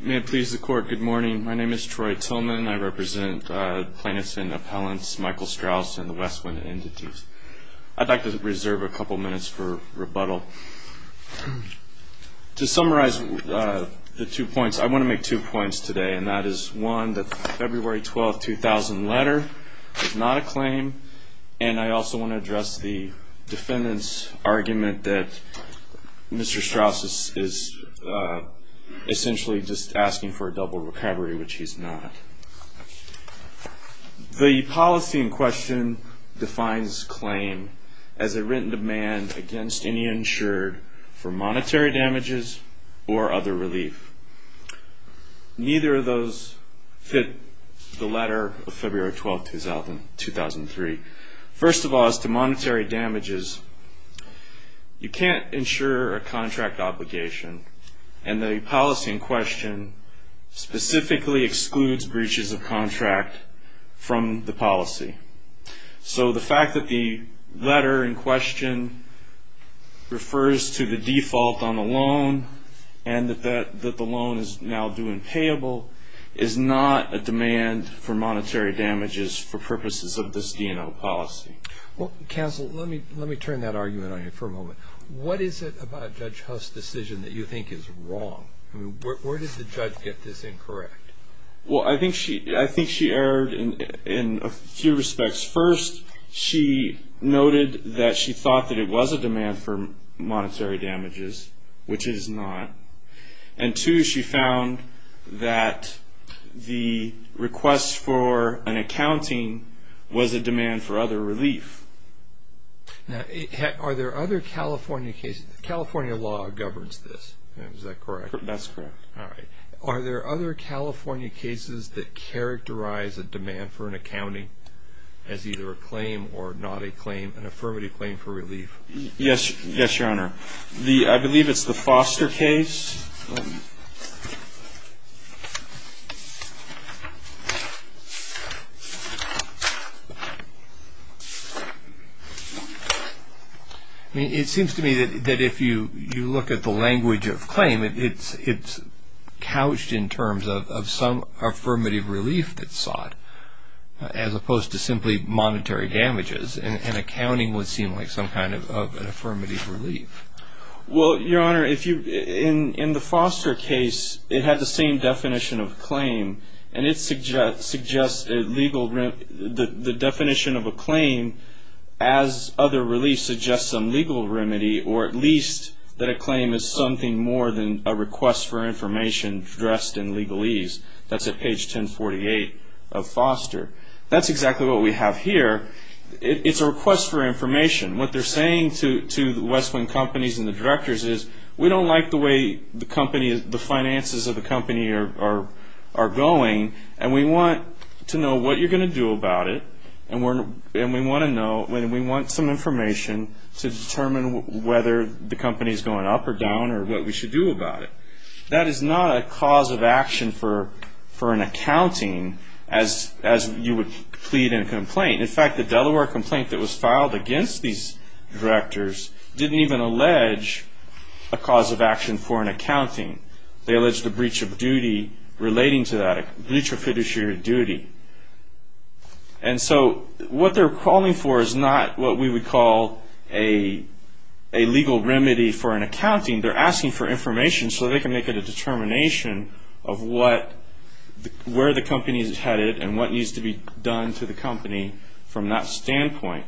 May it please the Court, good morning. My name is Troy Tillman. I represent plaintiffs and appellants Michael Strauss and the Westwind Entities. I'd like to reserve a couple minutes for rebuttal. To summarize the two points, I want to make two points today, and that is, one, that the February 12, 2000 letter is not a claim, and I also want to address the defendant's argument that Mr. Strauss is essentially just asking for a double recovery, which he's not. The policy in question defines claim as a written demand against any insured for monetary damages or other relief. Neither of those fit the letter of February 12, 2003. First of all, as to monetary damages, you can't insure a contract obligation, and the policy in question specifically excludes breaches of contract from the policy. So the fact that the letter in question refers to the default on a loan and that the loan is now due and payable is not a demand for monetary damages for purposes of this D&O policy. Counsel, let me turn that argument on you for a moment. What is it about Judge Huss' decision that you think is wrong? Where did the judge get this incorrect? Well, I think she erred in a few respects. First, she noted that she thought that it was a demand for monetary damages, which it is not, and two, she found that the request for an accounting was a demand for other relief. Now, are there other California cases? California law governs this. Is that correct? That's correct. All right. Are there other California cases that characterize a demand for an accounting as either a claim or not a claim, an affirmative claim for relief? Yes, Your Honor. I believe it's the Foster case. It seems to me that if you look at the language of claim, it's couched in terms of some affirmative relief that's sought as opposed to simply monetary damages, and accounting would seem like some kind of an affirmative relief. Well, Your Honor, in the Foster case, it had the same definition of claim, and it suggests the definition of a claim as other relief suggests some legal remedy or at least that a claim is something more than a request for information addressed in legalese. That's at page 1048 of Foster. That's exactly what we have here. It's a request for information. What they're saying to the Westwind companies and the directors is, we don't like the way the finances of the company are going, and we want to know what you're going to do about it, and we want some information to determine whether the company is going up or down or what we should do about it. That is not a cause of action for an accounting as you would plead in a complaint. In fact, the Delaware complaint that was filed against these directors didn't even allege a cause of action for an accounting. They alleged a breach of duty relating to that, a breach of fiduciary duty. And so what they're calling for is not what we would call a legal remedy for an accounting. They're asking for information so they can make a determination of where the company is headed and what needs to be done to the company from that standpoint.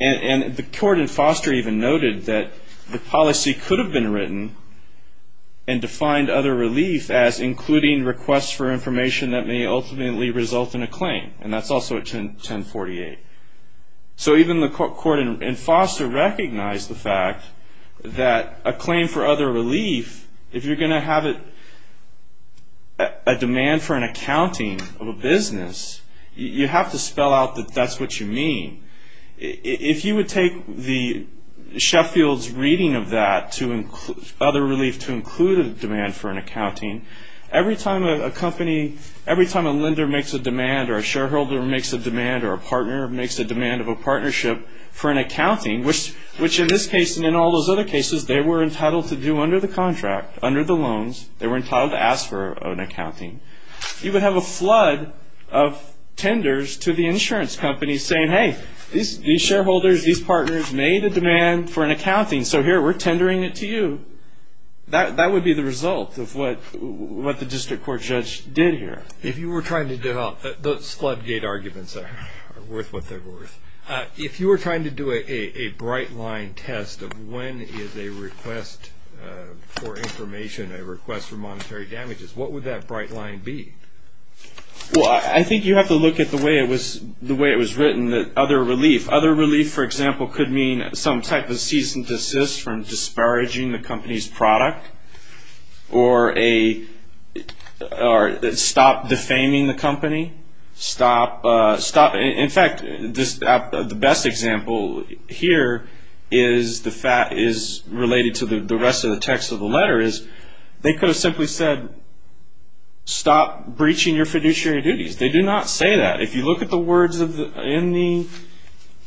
And the court in Foster even noted that the policy could have been written and defined other relief as including requests for information that may ultimately result in a claim, and that's also at 1048. So even the court in Foster recognized the fact that a claim for other relief, if you're going to have a demand for an accounting of a business, you have to spell out that that's what you mean. If you would take Sheffield's reading of that, other relief to include a demand for an accounting, every time a lender makes a demand or a shareholder makes a demand or a partner makes a demand of a partnership for an accounting, which in this case and in all those other cases they were entitled to do under the contract, under the loans, they were entitled to ask for an accounting, you would have a flood of tenders to the insurance companies saying, hey, these shareholders, these partners made a demand for an accounting, so here, we're tendering it to you. That would be the result of what the district court judge did here. If you were trying to develop those flood gate arguments that are worth what they're worth, if you were trying to do a bright line test of when is a request for information, a request for monetary damages, what would that bright line be? Well, I think you have to look at the way it was written, the other relief. Other relief, for example, could mean some type of cease and desist from disparaging the company's product or stop defaming the company. In fact, the best example here is related to the rest of the text of the letter is they could have simply said, stop breaching your fiduciary duties. They do not say that. If you look at the words in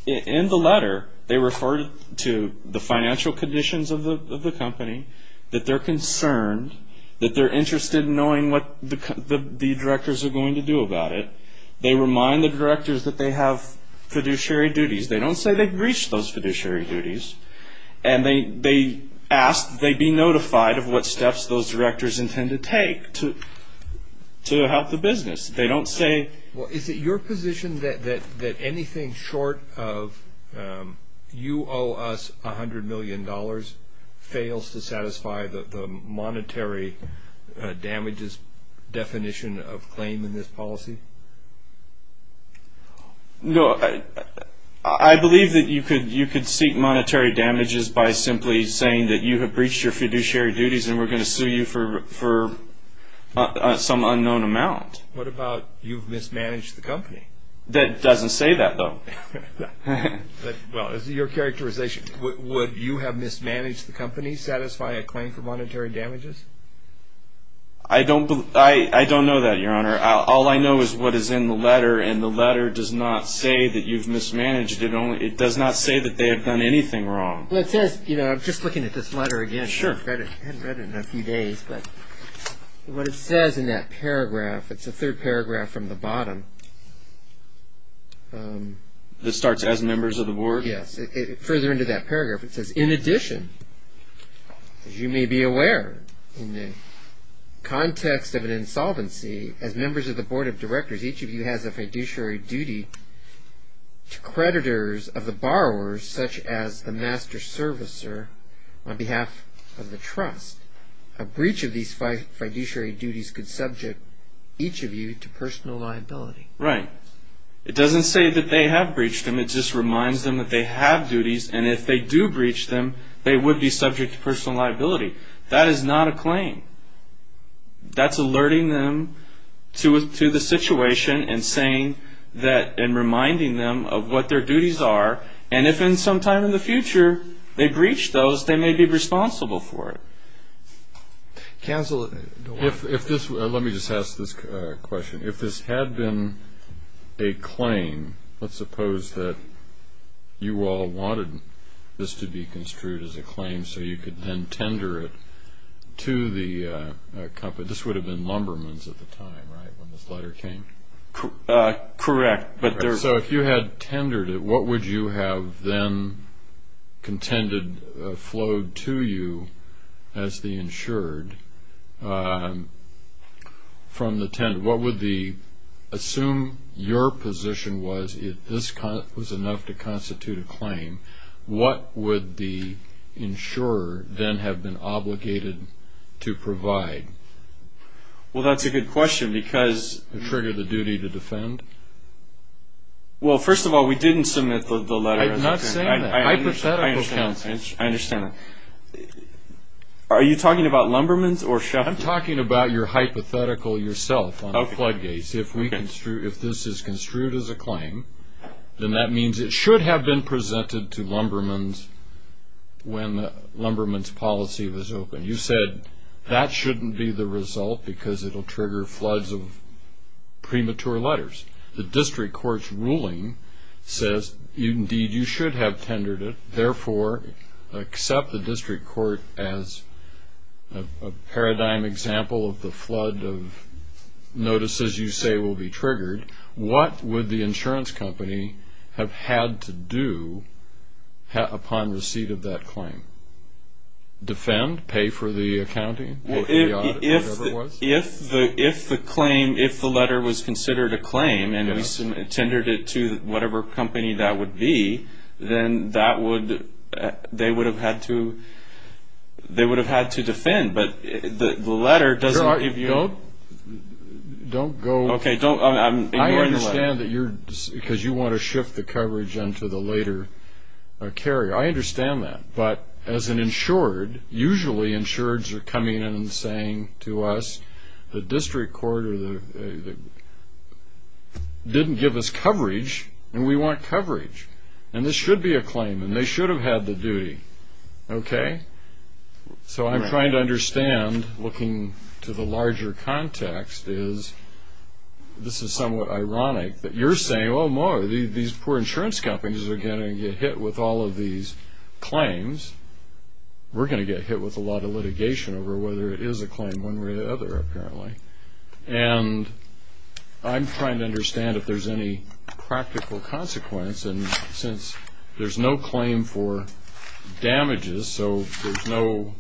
the letter, they refer to the financial conditions of the company, that they're concerned, that they're interested in knowing what the directors are going to do about it. They remind the directors that they have fiduciary duties. They don't say they've breached those fiduciary duties, and they ask they be notified of what steps those directors intend to take to help the business. Well, is it your position that anything short of you owe us $100 million fails to satisfy the monetary damages definition of claim in this policy? No. I believe that you could seek monetary damages by simply saying that you have breached your fiduciary duties and we're going to sue you for some unknown amount. What about you've mismanaged the company? That doesn't say that, though. Well, as your characterization, would you have mismanaged the company, satisfy a claim for monetary damages? I don't know that, Your Honor. All I know is what is in the letter, and the letter does not say that you've mismanaged it. It does not say that they have done anything wrong. Well, it says, you know, I'm just looking at this letter again. Sure. I hadn't read it in a few days, but what it says in that paragraph, it's the third paragraph from the bottom. This starts as members of the board? Yes. Further into that paragraph, it says, In addition, as you may be aware, in the context of an insolvency, as members of the board of directors, each of you has a fiduciary duty to creditors of the borrowers, such as the master servicer on behalf of the trust. A breach of these fiduciary duties could subject each of you to personal liability. Right. It doesn't say that they have breached them. It just reminds them that they have duties, and if they do breach them, they would be subject to personal liability. That is not a claim. That's alerting them to the situation and saying that, and reminding them of what their duties are, and if in some time in the future they breach those, they may be responsible for it. Cancel it. Let me just ask this question. If this had been a claim, let's suppose that you all wanted this to be construed as a claim so you could then tender it to the company. This would have been Lumbermans at the time, right, when this letter came? Correct. So if you had tendered it, what would you have then contended flowed to you as the insured? Assume your position was if this was enough to constitute a claim, what would the insurer then have been obligated to provide? Well, that's a good question because Well, first of all, we didn't submit the letter. I'm not saying that. I understand that. Are you talking about Lumbermans or Sheffield? I'm talking about your hypothetical yourself on floodgates. If this is construed as a claim, then that means it should have been presented to Lumbermans when Lumbermans' policy was open. You said that shouldn't be the result because it will trigger floods of premature letters. The district court's ruling says, indeed, you should have tendered it. Therefore, accept the district court as a paradigm example of the flood of notices you say will be triggered. What would the insurance company have had to do upon receipt of that claim? Defend? Pay for the accounting? If the letter was considered a claim and we tendered it to whatever company that would be, then they would have had to defend. But the letter doesn't give you... Don't go... Okay, ignore the letter. I understand because you want to shift the coverage into the later carrier. I understand that. But as an insured, usually insureds are coming in and saying to us, the district court didn't give us coverage and we want coverage. And this should be a claim and they should have had the duty. Okay? So I'm trying to understand, looking to the larger context, is this is somewhat ironic that you're saying, these poor insurance companies are going to get hit with all of these claims. We're going to get hit with a lot of litigation over whether it is a claim one way or the other, apparently. And I'm trying to understand if there's any practical consequence. And since there's no claim for damages, so there's no...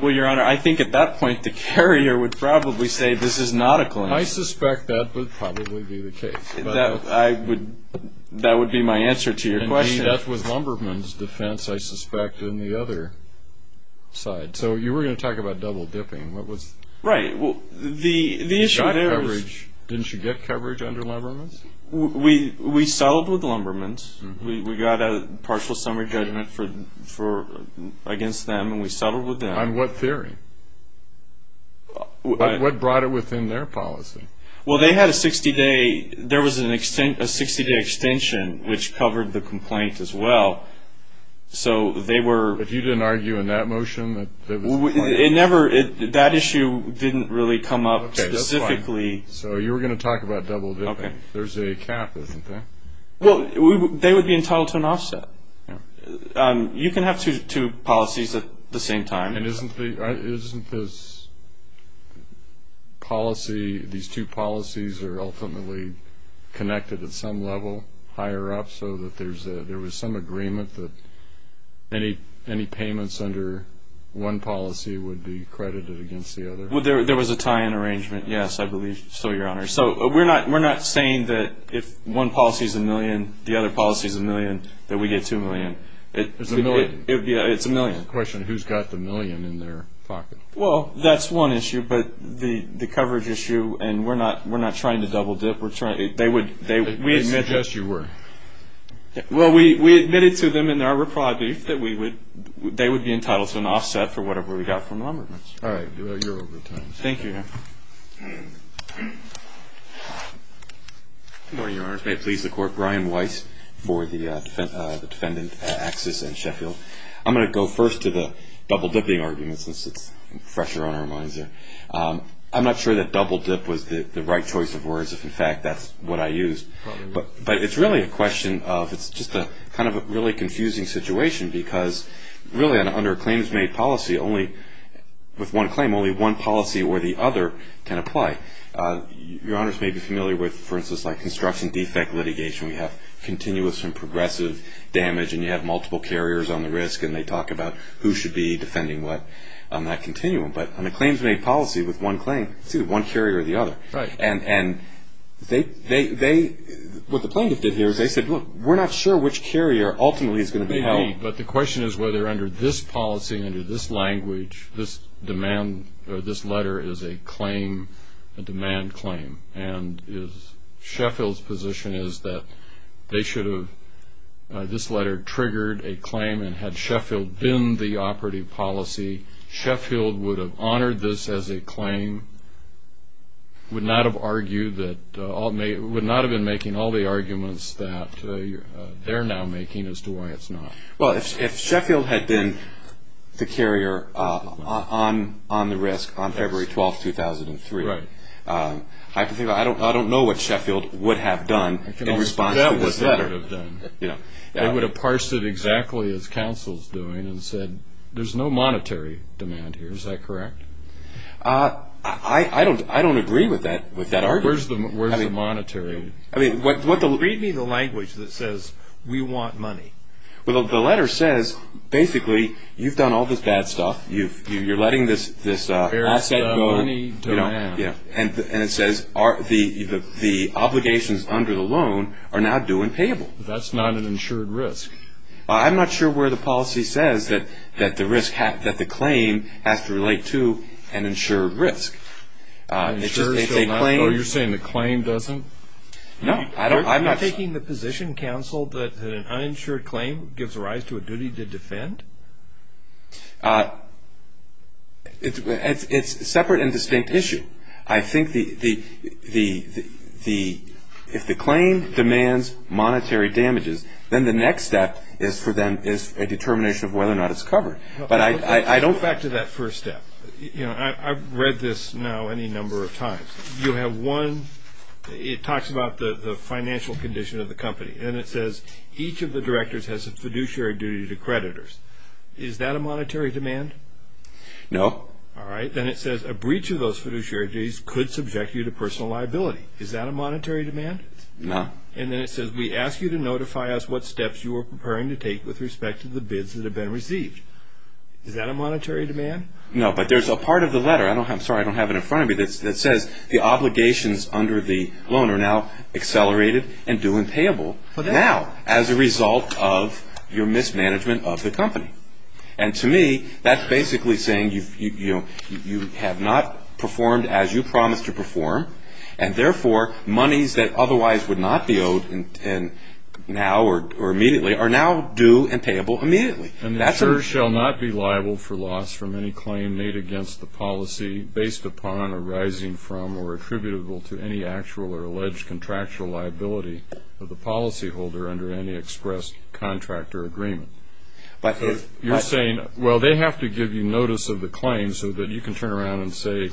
Well, Your Honor, I think at that point the carrier would probably say this is not a claim. I suspect that would probably be the case. That would be my answer to your question. And that was Lumberman's defense, I suspect, on the other side. So you were going to talk about double dipping. What was... Right. The issue there is... Didn't you get coverage under Lumberman's? We settled with Lumberman's. We got a partial summary judgment against them, and we settled with them. On what theory? What brought it within their policy? Well, they had a 60-day extension, which covered the complaint as well. So they were... But you didn't argue in that motion that it was... It never... That issue didn't really come up specifically. Okay, that's fine. So you were going to talk about double dipping. There's a cap, isn't there? Well, they would be entitled to an offset. You can have two policies at the same time. Isn't this policy, these two policies, are ultimately connected at some level higher up so that there was some agreement that any payments under one policy would be credited against the other? There was a tie-in arrangement, yes, I believe so, Your Honor. So we're not saying that if one policy is a million, the other policy is a million, that we get two million. It's a million. It's a million. The question, who's got the million in their pocket? Well, that's one issue, but the coverage issue, and we're not trying to double dip. They would... I suggest you were. Well, we admitted to them in our reply brief that they would be entitled to an offset for whatever we got from Lumberman's. All right. You're over time. Thank you, Your Honor. Good morning, Your Honor. May it please the Court. Brian Weiss for the defendant at Axis and Sheffield. I'm going to go first to the double-dipping argument since it's fresher on our minds there. I'm not sure that double-dip was the right choice of words if, in fact, that's what I used. But it's really a question of it's just kind of a really confusing situation because really under a claims-made policy only with one claim, only one policy or the other can apply. Your Honors may be familiar with, for instance, like construction defect litigation. We have continuous and progressive damage, and you have multiple carriers on the risk, and they talk about who should be defending what on that continuum. But on a claims-made policy with one claim, it's either one carrier or the other. Right. And what the plaintiff did here is they said, look, we're not sure which carrier ultimately is going to be held. Right. But the question is whether under this policy, under this language, this demand or this letter is a claim, a demand claim. And is Sheffield's position is that they should have, this letter triggered a claim, and had Sheffield been the operative policy, Sheffield would have honored this as a claim, would not have argued that, would not have been making all the arguments that they're now making as to why it's not. Well, if Sheffield had been the carrier on the risk on February 12th, 2003, I don't know what Sheffield would have done in response to this letter. They would have parsed it exactly as counsel's doing and said, there's no monetary demand here. Is that correct? I don't agree with that argument. Where's the monetary? Read me the language that says, we want money. Well, the letter says, basically, you've done all this bad stuff. You're letting this asset go. And it says the obligations under the loan are now due and payable. That's not an insured risk. I'm not sure where the policy says that the claim has to relate to an insured risk. You're saying the claim doesn't? No. Are you taking the position, counsel, that an uninsured claim gives rise to a duty to defend? It's a separate and distinct issue. I think if the claim demands monetary damages, then the next step is a determination of whether or not it's covered. But I don't back to that first step. I've read this now any number of times. You have one, it talks about the financial condition of the company. And it says each of the directors has a fiduciary duty to creditors. Is that a monetary demand? No. All right. Then it says a breach of those fiduciary duties could subject you to personal liability. Is that a monetary demand? No. And then it says we ask you to notify us what steps you are preparing to take with respect to the bids that have been received. Is that a monetary demand? No, but there's a part of the letter, I'm sorry, I don't have it in front of me, that says the obligations under the loan are now accelerated and due and payable now as a result of your mismanagement of the company. And to me, that's basically saying you have not performed as you promised to perform, and therefore monies that otherwise would not be owed now or immediately are now due and payable immediately. And the insurer shall not be liable for loss from any claim made against the policy based upon arising from or attributable to any actual or alleged contractual liability of the policyholder under any expressed contract or agreement. You're saying, well, they have to give you notice of the claim so that you can turn around and say,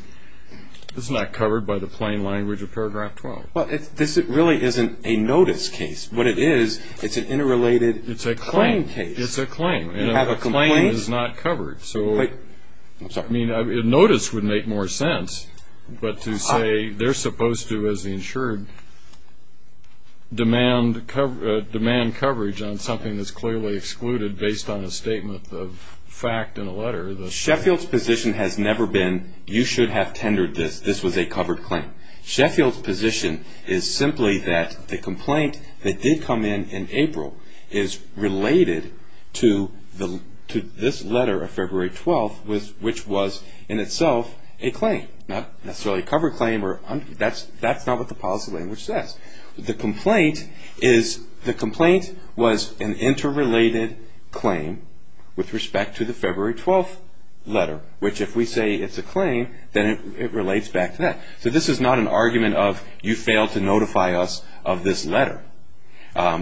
this is not covered by the plain language of paragraph 12. Well, this really isn't a notice case. What it is, it's an interrelated claim case. It's a claim. You have a complaint. And a claim is not covered. I'm sorry. I mean, notice would make more sense, but to say they're supposed to, as the insured, demand coverage on something that's clearly excluded based on a statement of fact in a letter. Sheffield's position has never been, you should have tendered this. This was a covered claim. Sheffield's position is simply that the complaint that did come in in April is related to this letter of February 12th, which was in itself a claim, not necessarily a covered claim. That's not what the policy language says. The complaint was an interrelated claim with respect to the February 12th letter, which if we say it's a claim, then it relates back to that. So this is not an argument of you failed to notify us of this letter,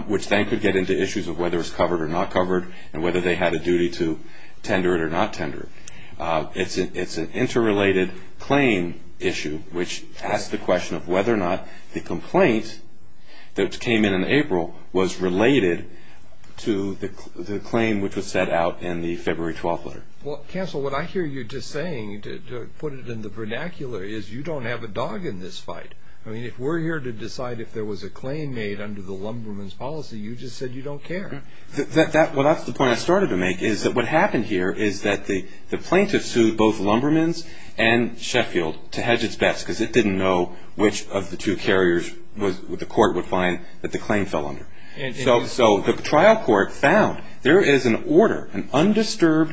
which then could get into issues of whether it's covered or not covered and whether they had a duty to tender it or not tender it. It's an interrelated claim issue, which asks the question of whether or not the complaint that came in in April was related to the claim, which was set out in the February 12th letter. Well, counsel, what I hear you just saying, to put it in the vernacular, is you don't have a dog in this fight. I mean, if we're here to decide if there was a claim made under the lumberman's policy, you just said you don't care. Well, that's the point I started to make, is that what happened here is that the plaintiff sued both lumberman's and Sheffield to hedge its bets because it didn't know which of the two carriers the court would find that the claim fell under. So the trial court found there is an order, an undisturbed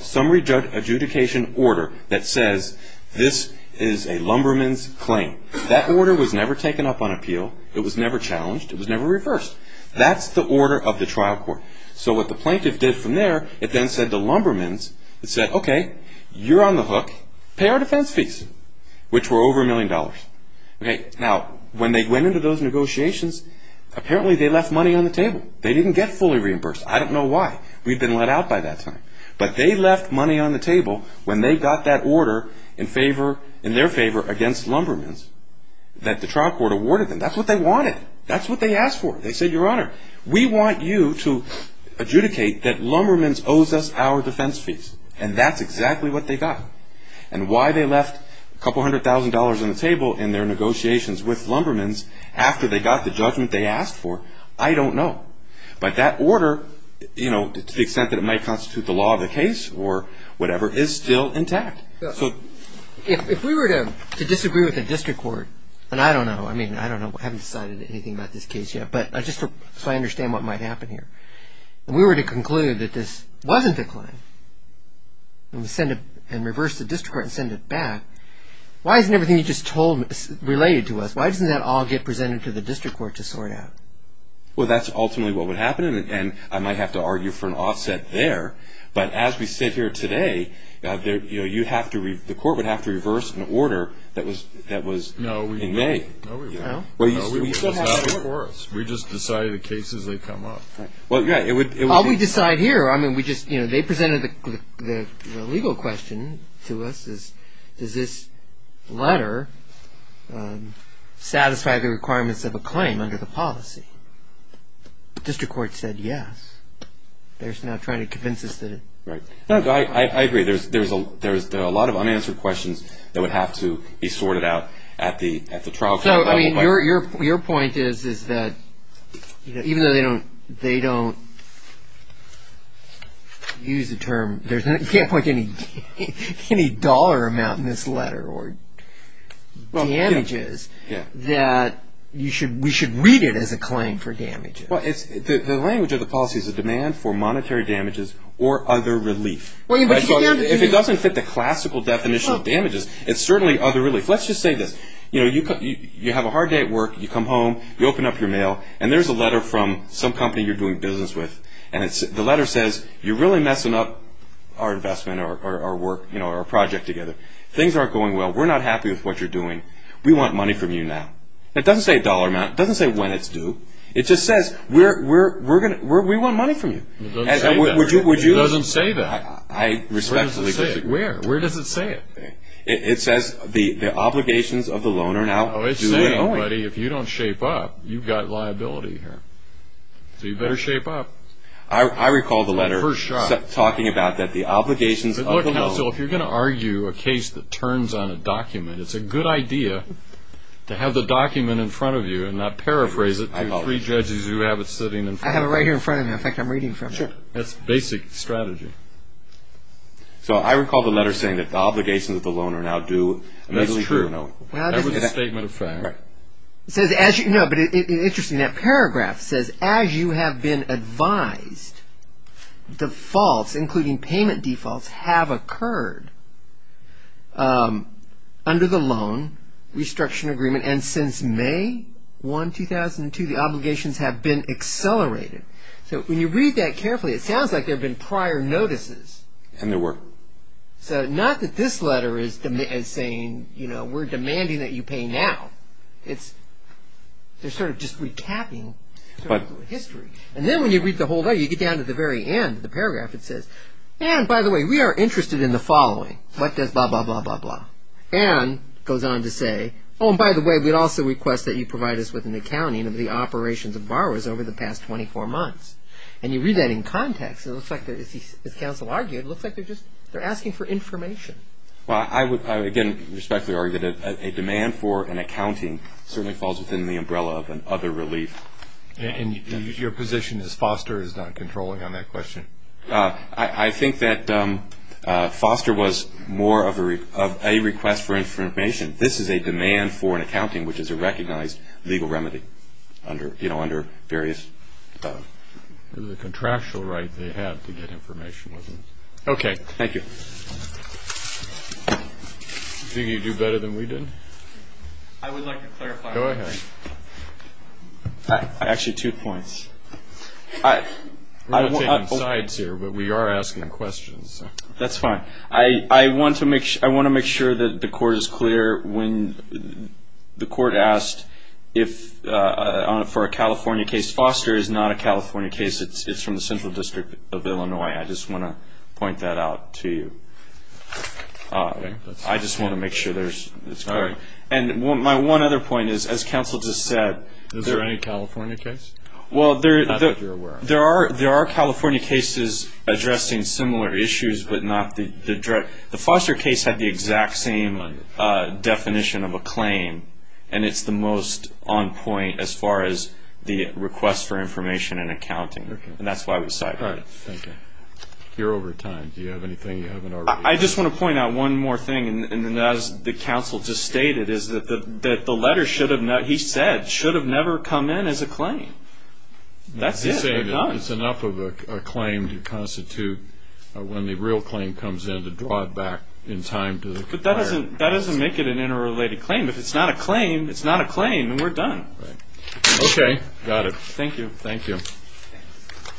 summary adjudication order, that says this is a lumberman's claim. That order was never taken up on appeal. It was never challenged. It was never reversed. That's the order of the trial court. So what the plaintiff did from there, it then said to lumberman's, it said, okay, you're on the hook. Pay our defense fees, which were over a million dollars. Now, when they went into those negotiations, apparently they left money on the table. They didn't get fully reimbursed. I don't know why. We'd been let out by that time. But they left money on the table when they got that order in their favor against lumberman's that the trial court awarded them. That's what they wanted. That's what they asked for. They said, Your Honor, we want you to adjudicate that lumberman's owes us our defense fees. And that's exactly what they got. And why they left a couple hundred thousand dollars on the table in their negotiations with lumberman's after they got the judgment they asked for, I don't know. But that order, you know, to the extent that it might constitute the law of the case or whatever, is still intact. If we were to disagree with the district court, and I don't know. I mean, I don't know. I haven't decided anything about this case yet. But just so I understand what might happen here. If we were to conclude that this wasn't a claim and reverse the district court and send it back, why isn't everything you just told related to us? Why doesn't that all get presented to the district court to sort out? Well, that's ultimately what would happen. And I might have to argue for an offset there. But as we sit here today, the court would have to reverse an order that was in May. No, we didn't. No, we didn't. No? No, we just decided the cases would come up. Well, yeah, it would be. Well, we decide here. I mean, we just, you know, they presented the legal question to us is, does this letter satisfy the requirements of a claim under the policy? The district court said yes. They're just now trying to convince us that it. Right. No, I agree. There's a lot of unanswered questions that would have to be sorted out at the trial court level. So, I mean, your point is that even though they don't use the term, you can't point to any dollar amount in this letter or damages, that we should read it as a claim for damages. Well, the language of the policy is a demand for monetary damages or other relief. If it doesn't fit the classical definition of damages, it's certainly other relief. Let's just say this. You know, you have a hard day at work. You come home. You open up your mail. And there's a letter from some company you're doing business with. And the letter says, you're really messing up our investment or our work, you know, our project together. Things aren't going well. We're not happy with what you're doing. We want money from you now. It doesn't say a dollar amount. It doesn't say when it's due. It just says, we want money from you. It doesn't say that. It doesn't say that. I respectfully disagree. Where does it say it? It says, the obligations of the loan are now due. Oh, it's saying, buddy, if you don't shape up, you've got liability here. So you better shape up. I recall the letter talking about that, the obligations of the loan. Look, Nelson, if you're going to argue a case that turns on a document, it's a good idea to have the document in front of you and not paraphrase it to three judges who have it sitting in front of them. I have it right here in front of me. In fact, I'm reading from it. Sure. That's basic strategy. So I recall the letter saying that the obligations of the loan are now due. That's true. That was a statement of fact. No, but it's interesting. That paragraph says, as you have been advised, defaults, including payment defaults, have occurred. Under the loan, restructuring agreement, and since May 1, 2002, the obligations have been accelerated. So when you read that carefully, it sounds like there have been prior notices. And there were. So not that this letter is saying, you know, we're demanding that you pay now. It's sort of just recapping history. And then when you read the whole letter, you get down to the very end of the paragraph. It says, and, by the way, we are interested in the following. What does blah, blah, blah, blah, blah. And it goes on to say, oh, and by the way, we'd also request that you provide us with an accounting of the operations of borrowers over the past 24 months. And you read that in context, it looks like, as counsel argued, it looks like they're asking for information. Well, I would, again, respectfully argue that a demand for an accounting certainly falls within the umbrella of an other relief. And your position is Foster is not controlling on that question? I think that Foster was more of a request for information. This is a demand for an accounting, which is a recognized legal remedy under various. The contractual right they have to get information. Okay. Thank you. Do you think you do better than we did? I would like to clarify. Go ahead. Actually, two points. We're not taking sides here, but we are asking questions. That's fine. I want to make sure that the Court is clear. When the Court asked for a California case, Foster is not a California case. It's from the Central District of Illinois. I just want to point that out to you. I just want to make sure it's clear. And my one other point is, as counsel just said. Is there any California case? Well, there are California cases addressing similar issues, but not the direct. The Foster case had the exact same definition of a claim, and it's the most on point as far as the request for information and accounting. And that's why we sided. All right. Thank you. You're over time. Do you have anything you haven't already said? I just want to point out one more thing. And as the counsel just stated, is that the letter should have never, he said, should have never come in as a claim. That's it. He's saying that it's enough of a claim to constitute when the real claim comes in to draw it back in time to the complier. But that doesn't make it an interrelated claim. If it's not a claim, it's not a claim, and we're done. Okay. Got it. Thank you. Thank you.